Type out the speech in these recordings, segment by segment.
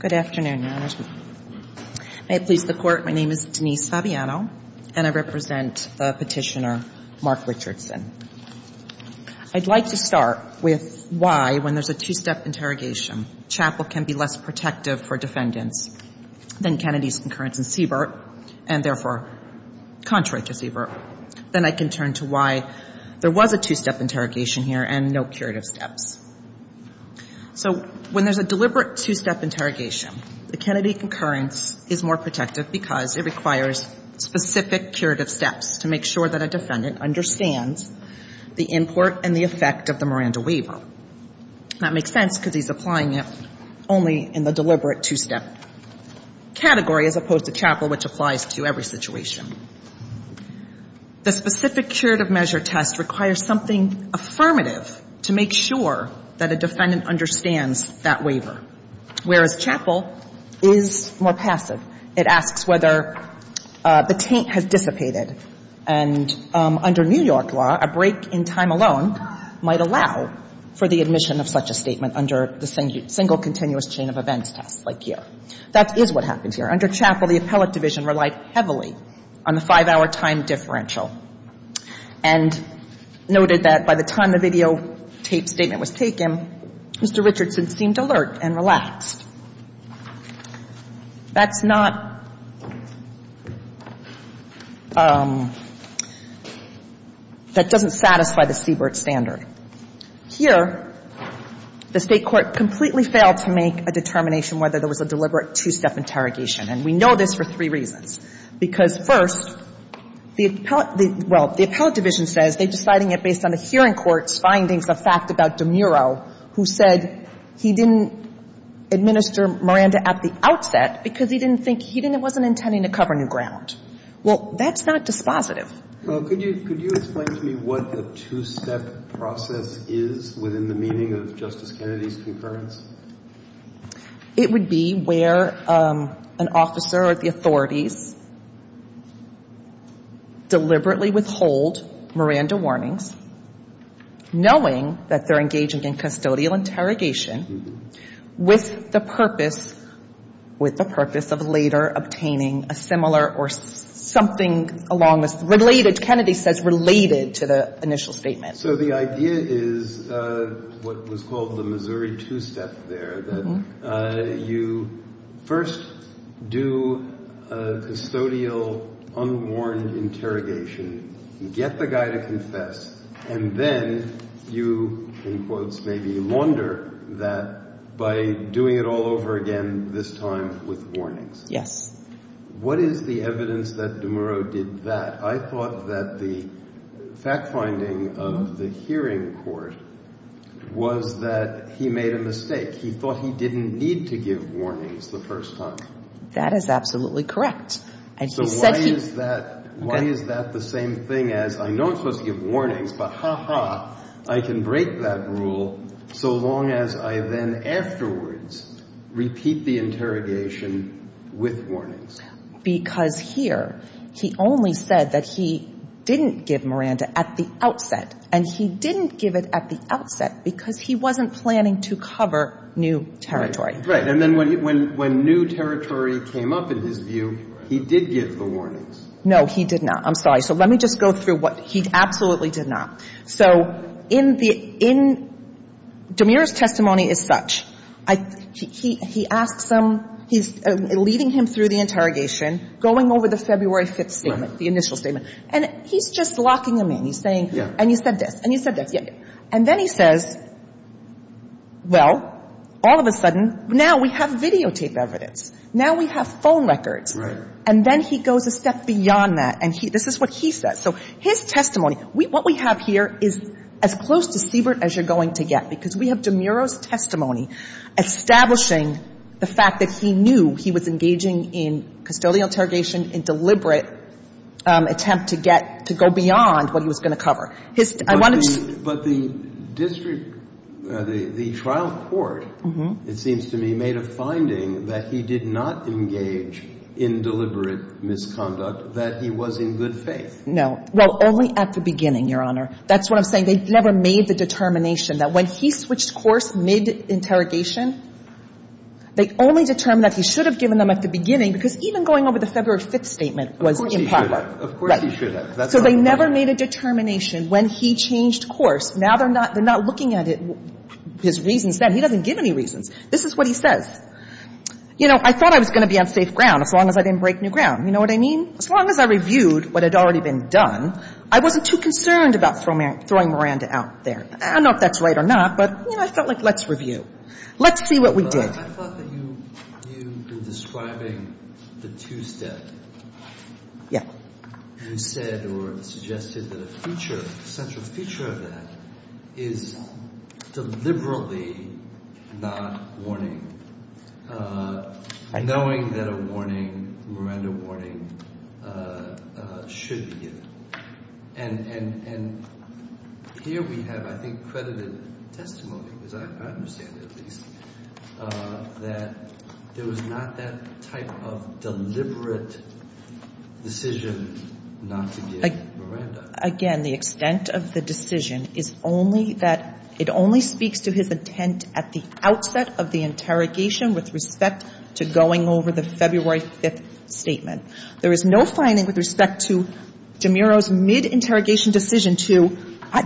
Good afternoon, Your Honors. May it please the Court, my name is Denise Fabiano and I represent the Petitioner, Mark Richardson. I'd like to start with why, when there's a two-step interrogation, Chappell can be less protective for defendants than Kennedy's concurrence in Siebert and, therefore, contrary to Siebert. Then I can turn to why there was a two-step interrogation here and no curative steps. So when there's a deliberate two-step interrogation, the Kennedy concurrence is more protective because it requires specific curative steps to make sure that a defendant understands the import and the effect of the Miranda waiver. That makes sense because he's applying it only in the deliberate two-step category as opposed to Chappell, which applies to every situation. The specific curative measure test requires something affirmative to make sure that a defendant understands that waiver, whereas Chappell is more passive. It asks whether the taint has dissipated and, under New York law, a break in time alone might allow for the admission of such a statement under the single continuous chain of events test like here. That is what happened here. Under Chappell, the appellate division relied heavily on the five-hour time differential and noted that by the time the videotape statement was taken, Mr. Richardson seemed alert and relaxed. That's not – that doesn't satisfy the Siebert standard. Here, the State court completely failed to make a determination whether there was a deliberate two-step interrogation. And we know this for three reasons, because, first, the appellate – well, the appellate division says they're deciding it based on the hearing court's findings of fact about DeMuro, who said he didn't administer Miranda at the outset because he didn't think – he wasn't intending to cover new ground. Well, that's not dispositive. Well, could you explain to me what the two-step process is within the meaning of Justice Kennedy's concurrence? It would be where an officer or the authorities deliberately withhold Miranda warnings, knowing that they're engaging in custodial interrogation with the purpose – with the purpose of later obtaining a similar or something along the – related – Kennedy says related to the initial statement. So the idea is what was called the Missouri two-step there, that you first do custodial unwarranted interrogation, get the guy to confess, and then you, in quotes, maybe launder that by doing it all over again, this time with warnings. Yes. What is the evidence that DeMuro did that? I thought that the fact-finding of the hearing court was that he made a mistake. He thought he didn't need to give warnings the first time. That is absolutely correct. And he said he – So why is that – why is that the same thing as I know I'm supposed to give warnings, but ha-ha, I can break that rule so long as I then afterwards repeat the interrogation with warnings? Because here, he only said that he didn't give Miranda at the outset, and he didn't give it at the outset because he wasn't planning to cover new territory. Right. And then when new territory came up, in his view, he did give the warnings. No, he did not. I'm sorry. So let me just go through what – he absolutely did not. So in the – in DeMuro's testimony as such, he asks him – he's leading him through the interrogation, going over the February 5th statement, the initial statement, and he's just locking them in. He's saying, and you said this, and you said this. And then he says, well, all of a sudden, now we have videotape evidence. Now we have phone records. Right. And then he goes a step beyond that, and he – this is what he says. So his testimony – what we have here is as close to Siebert as you're going to get, because we have DeMuro's testimony establishing the fact that he knew he was engaging in custodial interrogation, in deliberate attempt to get – to go beyond what he was going to cover. His – I wanted to – But the district – the trial court, it seems to me, made a finding that he did not have deliberate misconduct, that he was in good faith. No. Well, only at the beginning, Your Honor. That's what I'm saying. They never made the determination that when he switched course mid-interrogation, they only determined that he should have given them at the beginning, because even going over the February 5th statement was improper. Of course he should have. Right. Of course he should have. So they never made a determination when he changed course. Now they're not – they're not looking at his reasons then. He doesn't give any reasons. This is what he says. You know, I thought I was going to be on safe ground as long as I didn't break new ground. You know what I mean? As long as I reviewed what had already been done, I wasn't too concerned about throwing Miranda out there. I don't know if that's right or not, but, you know, I felt like let's review. Let's see what we did. But I thought that you – you were describing the two-step. Yeah. You said or suggested that a feature – a central feature of that is deliberately not warning, knowing that a warning, Miranda warning, should be given. And here we have, I think, credited testimony, as I understand it at least, that there was not that type of deliberate decision not to give Miranda. Again, the extent of the decision is only that – it only speaks to his intent at the outset of the interrogation with respect to going over the February 5th statement. There is no finding with respect to DiMiro's mid-interrogation decision to,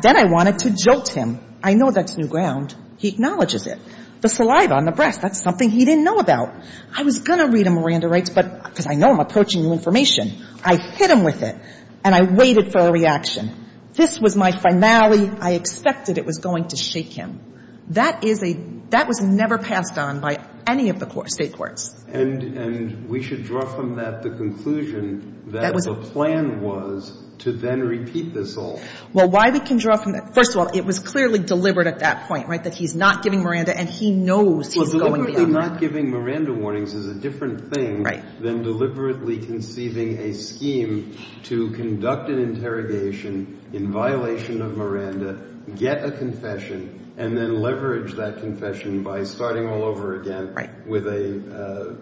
then I wanted to jolt him. I know that's new ground. He acknowledges it. The saliva on the breast, that's something he didn't know about. I was going to read him Miranda rights, but – because I know I'm approaching new information. I hit him with it, and I waited for a reaction. This was my finale. I expected it was going to shake him. That is a – that was never passed on by any of the State courts. And we should draw from that the conclusion that the plan was to then repeat this all. Well, why we can draw from that – first of all, it was clearly deliberate at that point, right, that he's not giving Miranda, and he knows he's going beyond that. Well, deliberately not giving Miranda warnings is a different thing than deliberately conceiving a scheme to conduct an interrogation in violation of Miranda, get a confession, and then leverage that confession by starting all over again with a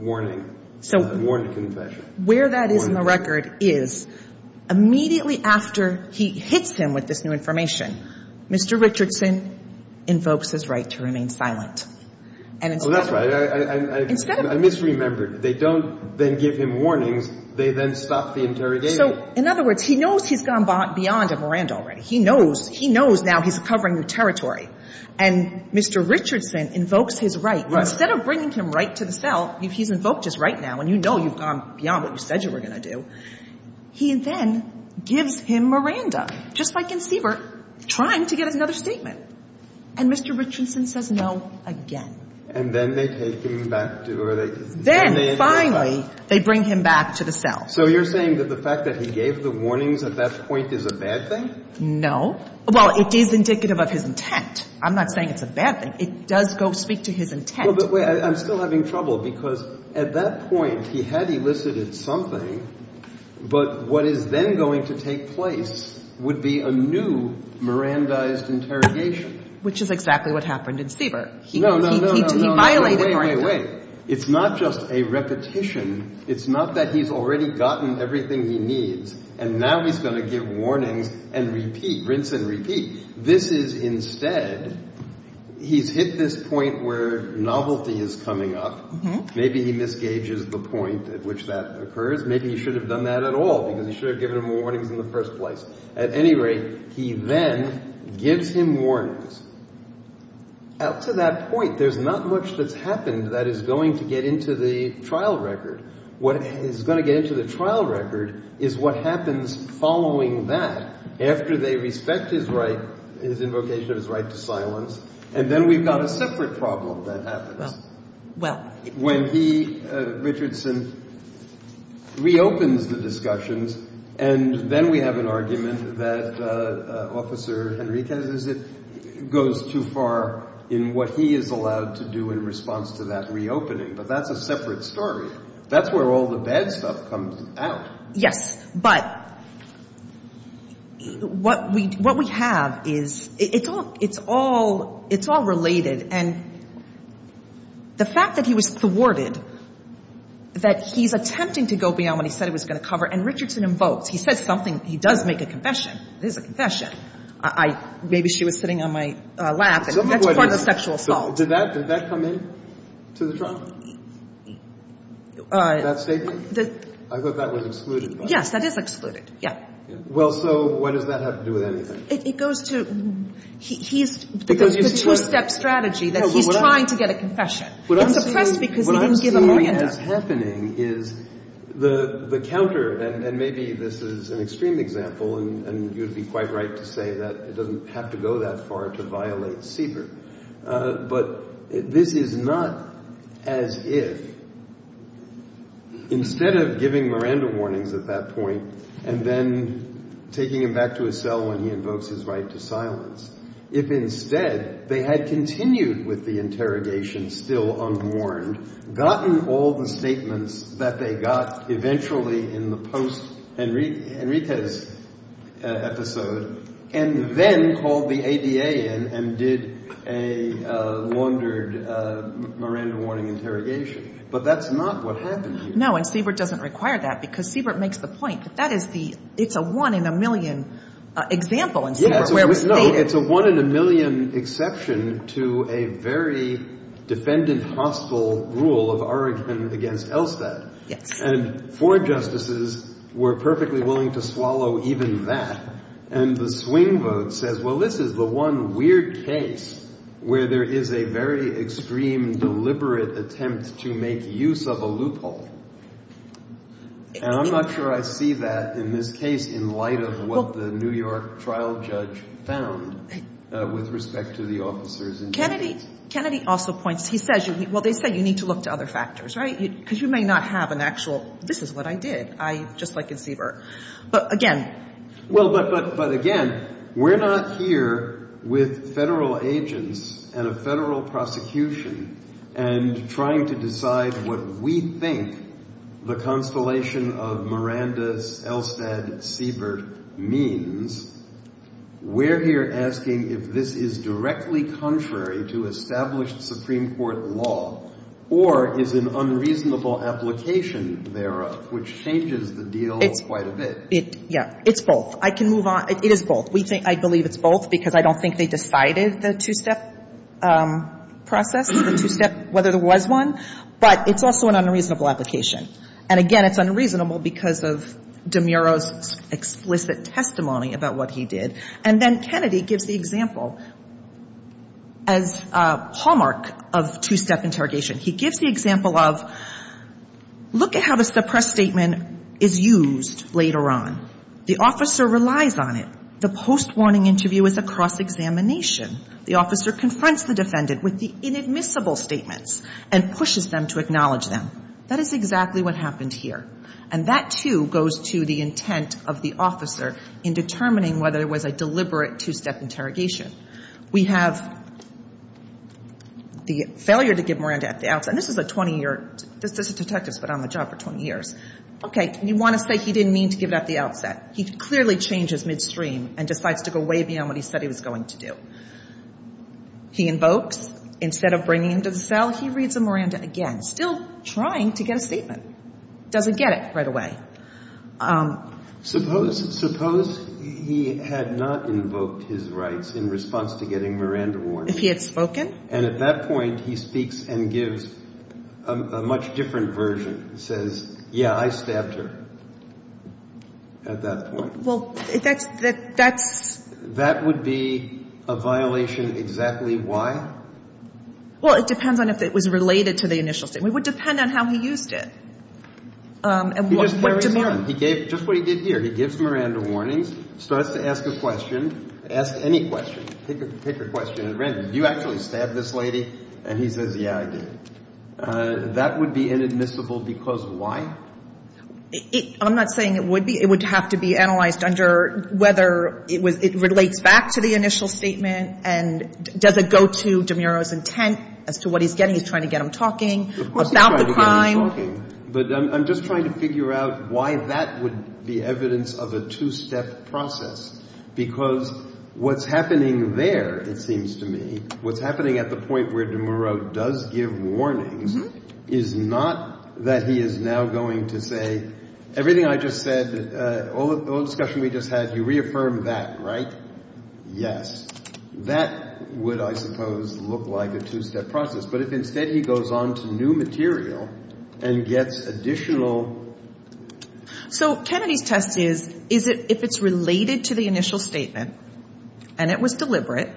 warning, a warned confession. So where that is in the record is immediately after he hits him with this new information, Mr. Richardson invokes his right to remain silent. Well, that's right. Instead of – I misremembered. They don't then give him warnings. They then stop the interrogation. So in other words, he knows he's gone beyond Miranda already. He knows – he knows now he's covering new territory. And Mr. Richardson invokes his right. Right. Instead of bringing him right to the cell, he's invoked his right now, and you know you've gone beyond what you said you were going to do. He then gives him Miranda, just like Conceiver, trying to get another statement. And Mr. Richardson says no again. And then they take him back to – or they – Then, finally, they bring him back to the cell. So you're saying that the fact that he gave the warnings at that point is a bad thing? No. Well, it is indicative of his intent. I'm not saying it's a bad thing. It does go speak to his intent. Well, but wait. I'm still having trouble because at that point, he had elicited something, but what is then going to take place would be a new Mirandized interrogation. Which is exactly what happened in Sieber. No, no, no, no. He violated Miranda. Wait, wait, wait. It's not just a repetition. It's not that he's already gotten everything he needs, and now he's going to give warnings and repeat, rinse and repeat. This is instead – he's hit this point where novelty is coming up. Maybe he misgages the point at which that occurs. Maybe he should have done that at all because he should have given him warnings in the first place. At any rate, he then gives him warnings. Out to that point, there's not much that's happened that is going to get into the trial record. What is going to get into the trial record is what happens following that, after they respect his right, his invocation of his right to silence, and then we've got a separate problem that happens. Well, well. When he, Richardson, reopens the discussions, and then we have an argument that Officer Henriquez goes too far in what he is allowed to do in response to that reopening. But that's a separate story. That's where all the bad stuff comes out. Yes. But what we have is it's all related. And the fact that he was thwarted, that he's attempting to go beyond what he said he was going to cover, and Richardson invokes. He says something. He does make a confession. It is a confession. I – maybe she was sitting on my lap, and that's part of the sexual assault. Did that come in to the trial, that statement? I thought that was excluded. Yes, that is excluded. Yes. Well, so what does that have to do with anything? It goes to – he's – Because you said – It goes to the two-step strategy that he's trying to get a confession. What I'm saying – It's suppressed because he didn't give an oriented – What I'm saying that's happening is the counter – and maybe this is an extreme example, and you'd be quite right to say that it doesn't have to go that far to Instead of giving Miranda warnings at that point and then taking him back to his cell when he invokes his right to silence, if instead they had continued with the interrogation still unwarned, gotten all the statements that they got eventually in the post-Henriquez episode, and then called the ADA in and did a laundered Miranda warning interrogation, but that's not what happened here. No, and Siebert doesn't require that because Siebert makes the point that that is the – it's a one-in-a-million example in Siebert where we state – Yes, no, it's a one-in-a-million exception to a very defendant-hostile rule of Oregon against Elstad. Yes. And four justices were perfectly willing to swallow even that, and the swing vote says, well, this is the one weird case where there is a very extreme, deliberate attempt to make use of a loophole. And I'm not sure I see that in this case in light of what the New York trial judge found with respect to the officers in New York. Kennedy also points – he says – well, they say you need to look to other factors, right, because you may not have an actual, this is what I did, just like in Siebert. But again – Well, but again, we're not here with federal agents and a federal prosecution and trying to decide what we think the constellation of Miranda-Elstad-Siebert means. We're here asking if this is directly contrary to established Supreme Court law or is an It's both. I can move on. It is both. I believe it's both because I don't think they decided the two-step process, the two-step, whether there was one. But it's also an unreasonable application. And again, it's unreasonable because of DeMuro's explicit testimony about what he did. And then Kennedy gives the example as a hallmark of two-step interrogation. He gives the example of look at how the suppressed statement is used later on. The officer relies on it. The post-warning interview is a cross-examination. The officer confronts the defendant with the inadmissible statements and pushes them to acknowledge them. That is exactly what happened here. And that, too, goes to the intent of the officer in determining whether it was a deliberate two-step interrogation. We have the failure to give Miranda at the outset. And this is a 20-year – this is detectives, but on the job for 20 years. Okay. You want to say he didn't mean to give it at the outset. He clearly changes midstream and decides to go way beyond what he said he was going to do. He invokes. Instead of bringing him to the cell, he reads the Miranda again, still trying to get a statement. Doesn't get it right away. Suppose he had not invoked his rights in response to getting Miranda warned. If he had spoken? And at that point, he speaks and gives a much different version. He says, yeah, I stabbed her at that point. Well, that's the – that's – That would be a violation exactly why? Well, it depends on if it was related to the initial statement. It would depend on how he used it. He just put DeMuro – He gave – just what he did here. He gives Miranda warnings, starts to ask a question, ask any question. Pick a question at random. You actually stabbed this lady? And he says, yeah, I did. That would be inadmissible because why? I'm not saying it would be. It would have to be analyzed under whether it relates back to the initial statement and does it go to DeMuro's intent as to what he's getting. He's trying to get him talking about the crime. But I'm just trying to figure out why that would be evidence of a two-step process because what's happening there, it seems to me, what's happening at the point where DeMuro does give warnings is not that he is now going to say everything I just said, all the discussion we just had, you reaffirmed that, right? Yes. That would, I suppose, look like a two-step process. But if instead he goes on to new material and gets additional... So Kennedy's test is if it's related to the initial statement and it was deliberate,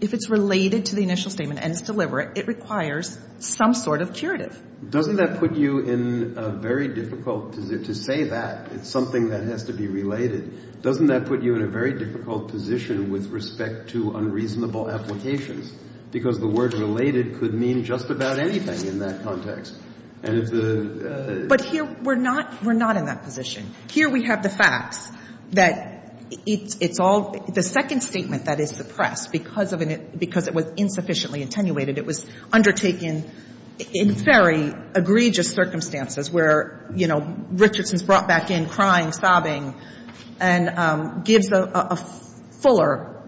if it's related to the initial statement and it's deliberate, it requires some sort of curative. Doesn't that put you in a very difficult position? To say that it's something that has to be related, doesn't that put you in a very difficult position with respect to unreasonable applications? Because the word related could mean just about anything in that context. And if the... But here we're not in that position. Here we have the facts that it's all the second statement that is suppressed because it was insufficiently attenuated. It was undertaken in very egregious circumstances where, you know, Richardson's brought back in crying, sobbing, and gives a fuller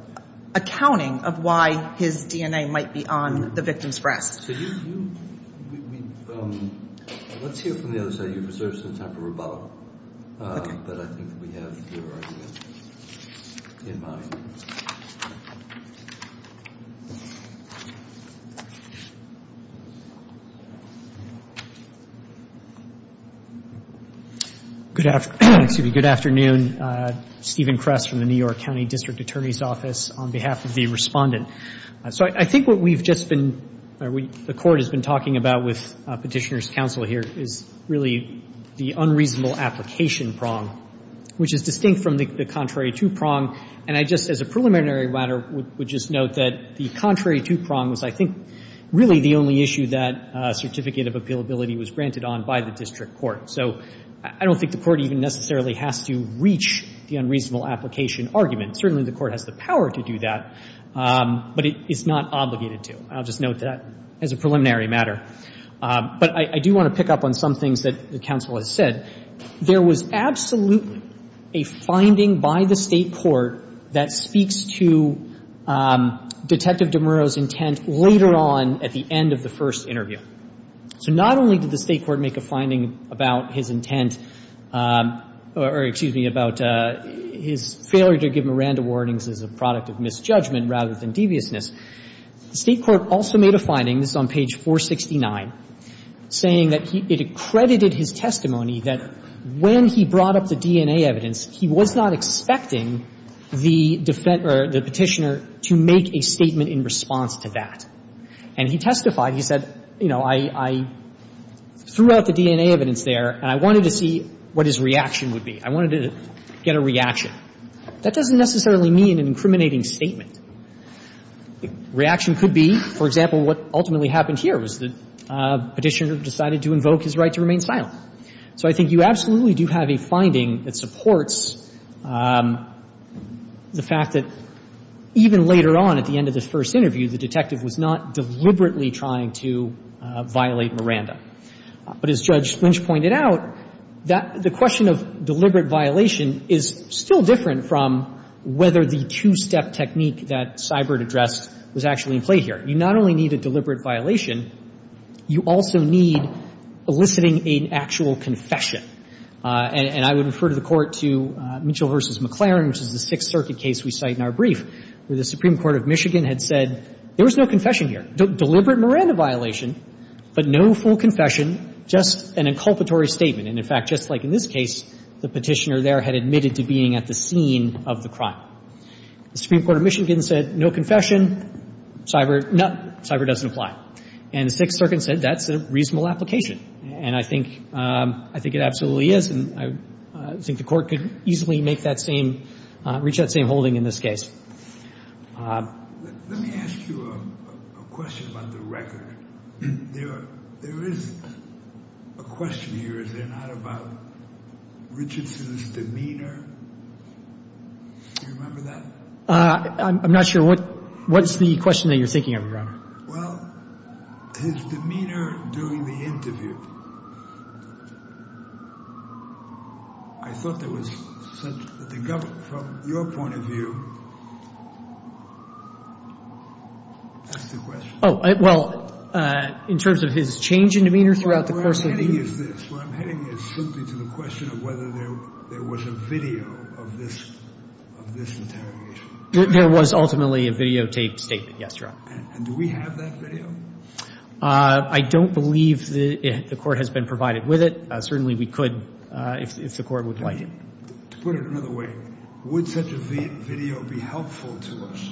accounting of why his DNA might be on the victim's breast. So you... Let's hear from the other side. You've reserved some time for rebuttal. Okay. But I think we have your idea in mind. Thank you. Good afternoon. Stephen Kress from the New York County District Attorney's Office on behalf of the respondent. So I think what we've just been or the Court has been talking about with Petitioner's Counsel here is really the unreasonable application prong, which is distinct from the contrary to prong. And I just, as a preliminary matter, would just note that the contrary to prong was, I think, really the only issue that certificate of appealability was granted on by the district court. So I don't think the Court even necessarily has to reach the unreasonable application argument. Certainly the Court has the power to do that, but it's not obligated to. I'll just note that as a preliminary matter. But I do want to pick up on some things that the counsel has said. There was absolutely a finding by the State court that speaks to Detective DeMuro's intent later on at the end of the first interview. So not only did the State court make a finding about his intent or, excuse me, about his failure to give Miranda warnings as a product of misjudgment rather than deviousness, the State court also made a finding, this is on page 469, saying that it accredited his testimony that when he brought up the DNA evidence, he was not expecting the petitioner to make a statement in response to that. And he testified. He said, you know, I threw out the DNA evidence there, and I wanted to see what his reaction would be. I wanted to get a reaction. That doesn't necessarily mean an incriminating statement. Reaction could be, for example, what ultimately happened here was the petitioner decided to invoke his right to remain silent. So I think you absolutely do have a finding that supports the fact that even later on at the end of the first interview, the detective was not deliberately trying to violate Miranda. But as Judge Lynch pointed out, that the question of deliberate violation is still different from whether the two-step technique that Seibert addressed was actually in play here. You not only need a deliberate violation, you also need eliciting an actual confession. And I would refer to the Court to Mitchell v. McLaren, which is the Sixth Circuit case we cite in our brief, where the Supreme Court of Michigan had said there was no confession here, deliberate Miranda violation, but no full confession, just an inculpatory statement. And, in fact, just like in this case, the petitioner there had admitted to being at the scene of the crime. The Supreme Court of Michigan said no confession. Seibert, no, Seibert doesn't apply. And the Sixth Circuit said that's a reasonable application. And I think it absolutely is, and I think the Court could easily make that same – reach that same holding in this case. Let me ask you a question about the record. There is a question here, is there, not, about Richardson's demeanor? Do you remember that? I'm not sure. What's the question that you're thinking of, Your Honor? Well, his demeanor during the interview. I thought there was – from your point of view, that's the question. Oh, well, in terms of his change in demeanor throughout the course of the interview? Where I'm heading is this. The question of whether there was a video of this interrogation. There was ultimately a videotaped statement, yes, Your Honor. And do we have that video? I don't believe the Court has been provided with it. Certainly we could if the Court would like it. To put it another way, would such a video be helpful to us?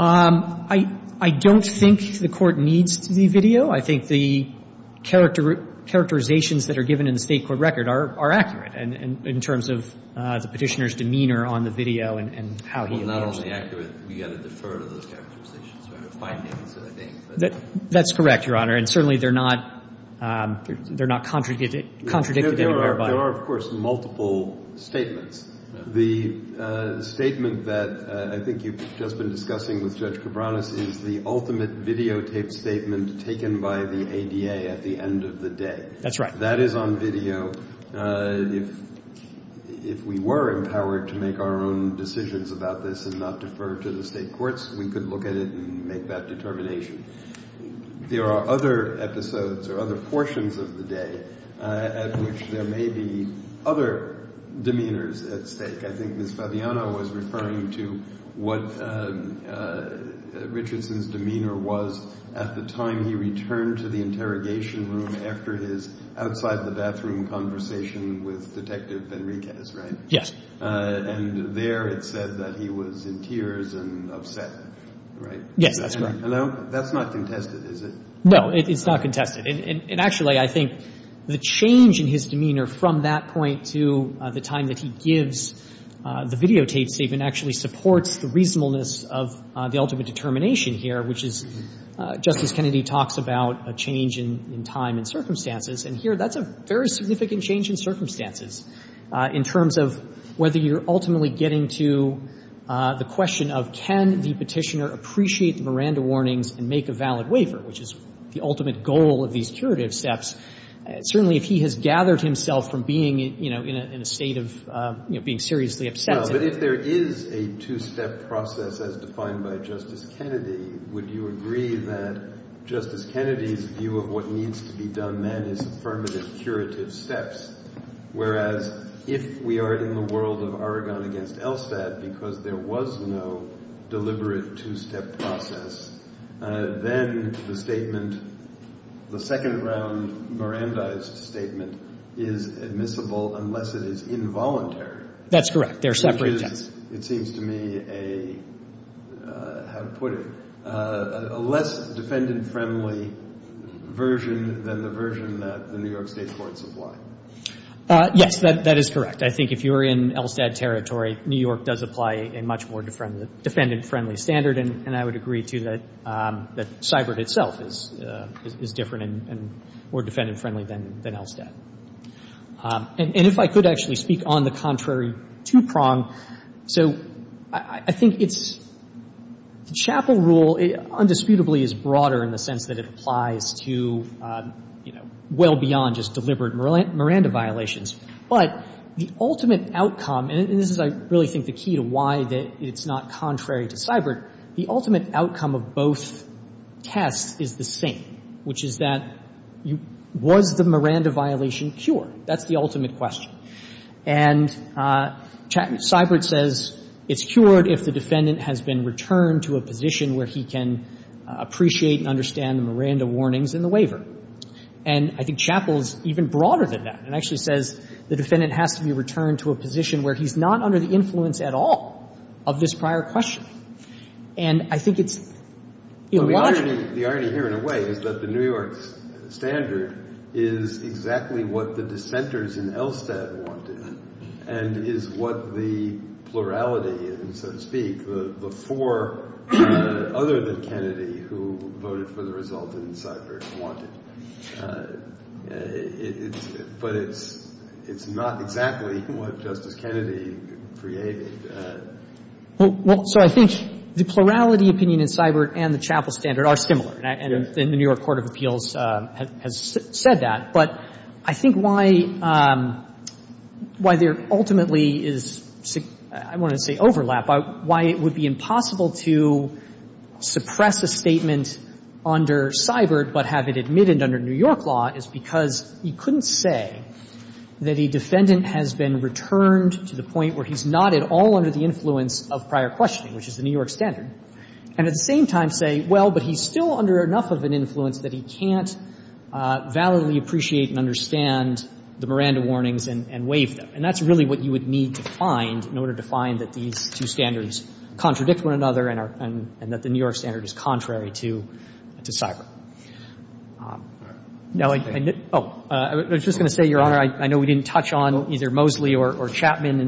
I don't think the Court needs the video. No, I think the characterizations that are given in the State court record are accurate in terms of the Petitioner's demeanor on the video and how he appears to be. Well, not only accurate, we've got to defer to those characterizations. That's correct, Your Honor. And certainly they're not contradicted anywhere. There are, of course, multiple statements. The statement that I think you've just been discussing with Judge Cabranes is the ultimate videotaped statement taken by the ADA at the end of the day. That's right. That is on video. If we were empowered to make our own decisions about this and not defer to the State courts, we could look at it and make that determination. There are other episodes or other portions of the day at which there may be other demeanors at stake. I think Ms. Fabiano was referring to what Richardson's demeanor was at the time he returned to the interrogation room after his outside-the-bathroom conversation with Detective Benriquez, right? Yes. And there it said that he was in tears and upset, right? Yes, that's right. And that's not contested, is it? No, it's not contested. And actually, I think the change in his demeanor from that point to the time that he gives the videotaped statement actually supports the reasonableness of the ultimate determination here, which is Justice Kennedy talks about a change in time and circumstances. And here that's a very significant change in circumstances in terms of whether you're ultimately getting to the question of can the Petitioner appreciate the Miranda warnings and make a valid waiver, which is the ultimate goal of these curative steps, certainly if he has gathered himself from being, you know, in a state of, you know, being seriously upset. But if there is a two-step process as defined by Justice Kennedy, would you agree that Justice Kennedy's view of what needs to be done then is affirmative curative steps, whereas if we are in the world of Aragon v. Elstad, because there was no deliberate two-step process, then the statement, the second-round Mirandized statement is admissible unless it is involuntary. That's correct. They're separate steps. It seems to me a, how to put it, a less defendant-friendly version than the version that the New York State courts apply. Yes, that is correct. I think if you're in Elstad territory, New York does apply a much more defendant-friendly standard, and I would agree, too, that Cybert itself is different and more defendant-friendly than Elstad. And if I could actually speak on the contrary two-prong. So I think it's, the Chappell rule undisputably is broader in the sense that it applies to, you know, well beyond just deliberate Miranda violations. But the ultimate outcome, and this is, I really think, the key to why it's not contrary to Cybert, the ultimate outcome of both tests is the same, which is that was the Miranda violation cured? That's the ultimate question. And Cybert says it's cured if the defendant has been returned to a position where he can appreciate and understand the Miranda warnings in the waiver. And I think Chappell is even broader than that and actually says the defendant has to be returned to a position where he's not under the influence at all of this prior question. And I think it's illogical. The irony here, in a way, is that the New York standard is exactly what the dissenters in Elstad wanted and is what the plurality, so to speak, the four other than Kennedy who voted for the result in Cybert wanted. But it's not exactly what Justice Kennedy created. Well, so I think the plurality opinion in Cybert and the Chappell standard are similar. And the New York court of appeals has said that. But I think why there ultimately is, I want to say overlap, why it would be impossible to suppress a statement under Cybert but have it admitted under New York law is because you couldn't say that a defendant has been returned to the point where he's not at all under the influence of prior questioning, which is the New York standard, and at the same time say, well, but he's still under enough of an influence that he can't validly appreciate and understand the Miranda warnings and waive them. And that's really what you would need to find in order to find that these two standards contradict one another and that the New York standard is contrary to Cybert. Now, I was just going to say, Your Honor, I know we didn't touch on either Mosley or Chapman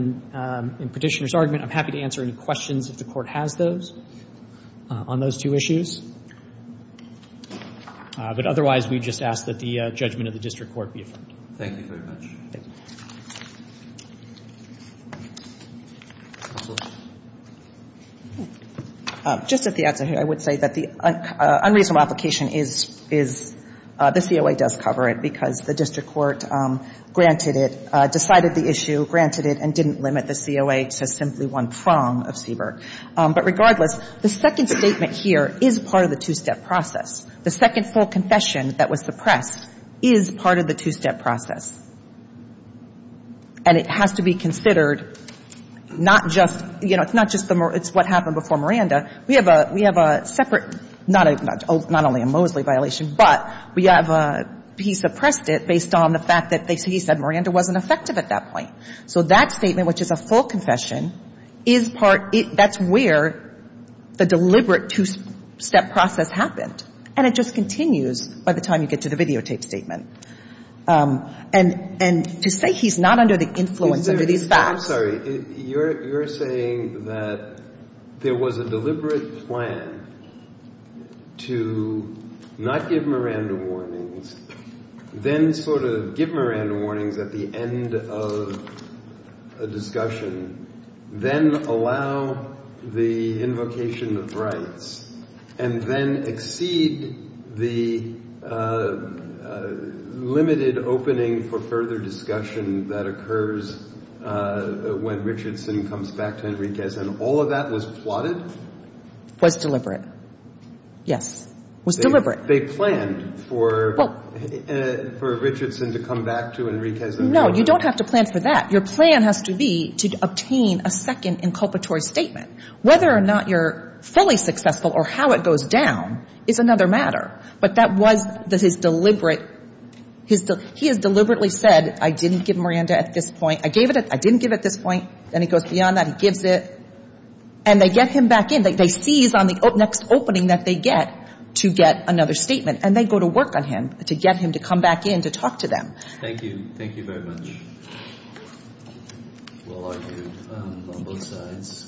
in Petitioner's argument. I'm happy to answer any questions if the Court has those on those two issues. But otherwise, we just ask that the judgment of the district court be affirmed. Thank you very much. Just at the outset here, I would say that the unreasonable application is the COA does cover it because the district court granted it, decided the issue, granted it, and didn't limit the COA to simply one prong of Cybert. But regardless, the second statement here is part of the two-step process. The second full confession that was suppressed is part of the two-step process. And it has to be considered not just, you know, it's not just the more – it's what happened before Miranda. We have a separate – not only a Mosley violation, but we have a – he suppressed it based on the fact that he said Miranda wasn't effective at that point. So that statement, which is a full confession, is part – that's where the deliberate two-step process happened. And it just continues by the time you get to the videotape statement. And to say he's not under the influence under these facts – I'm sorry. You're saying that there was a deliberate plan to not give Miranda warnings, then sort of give Miranda warnings at the end of a discussion, then allow the invocation of rights, and then exceed the limited opening for further discussion that occurs when Richardson comes back to Enriquez. And all of that was plotted? Was deliberate. Yes. Was deliberate. They planned for Richardson to come back to Enriquez. No, you don't have to plan for that. Your plan has to be to obtain a second inculpatory statement. Whether or not you're fully successful or how it goes down is another matter. But that was – his deliberate – he has deliberately said, I didn't give Miranda at this point. I gave it at – I didn't give at this point. Then he goes beyond that. He gives it. And they get him back in. They seize on the next opening that they get to get another statement. And they go to work on him to get him to come back in to talk to them. Thank you. Thank you very much. Well argued on both sides.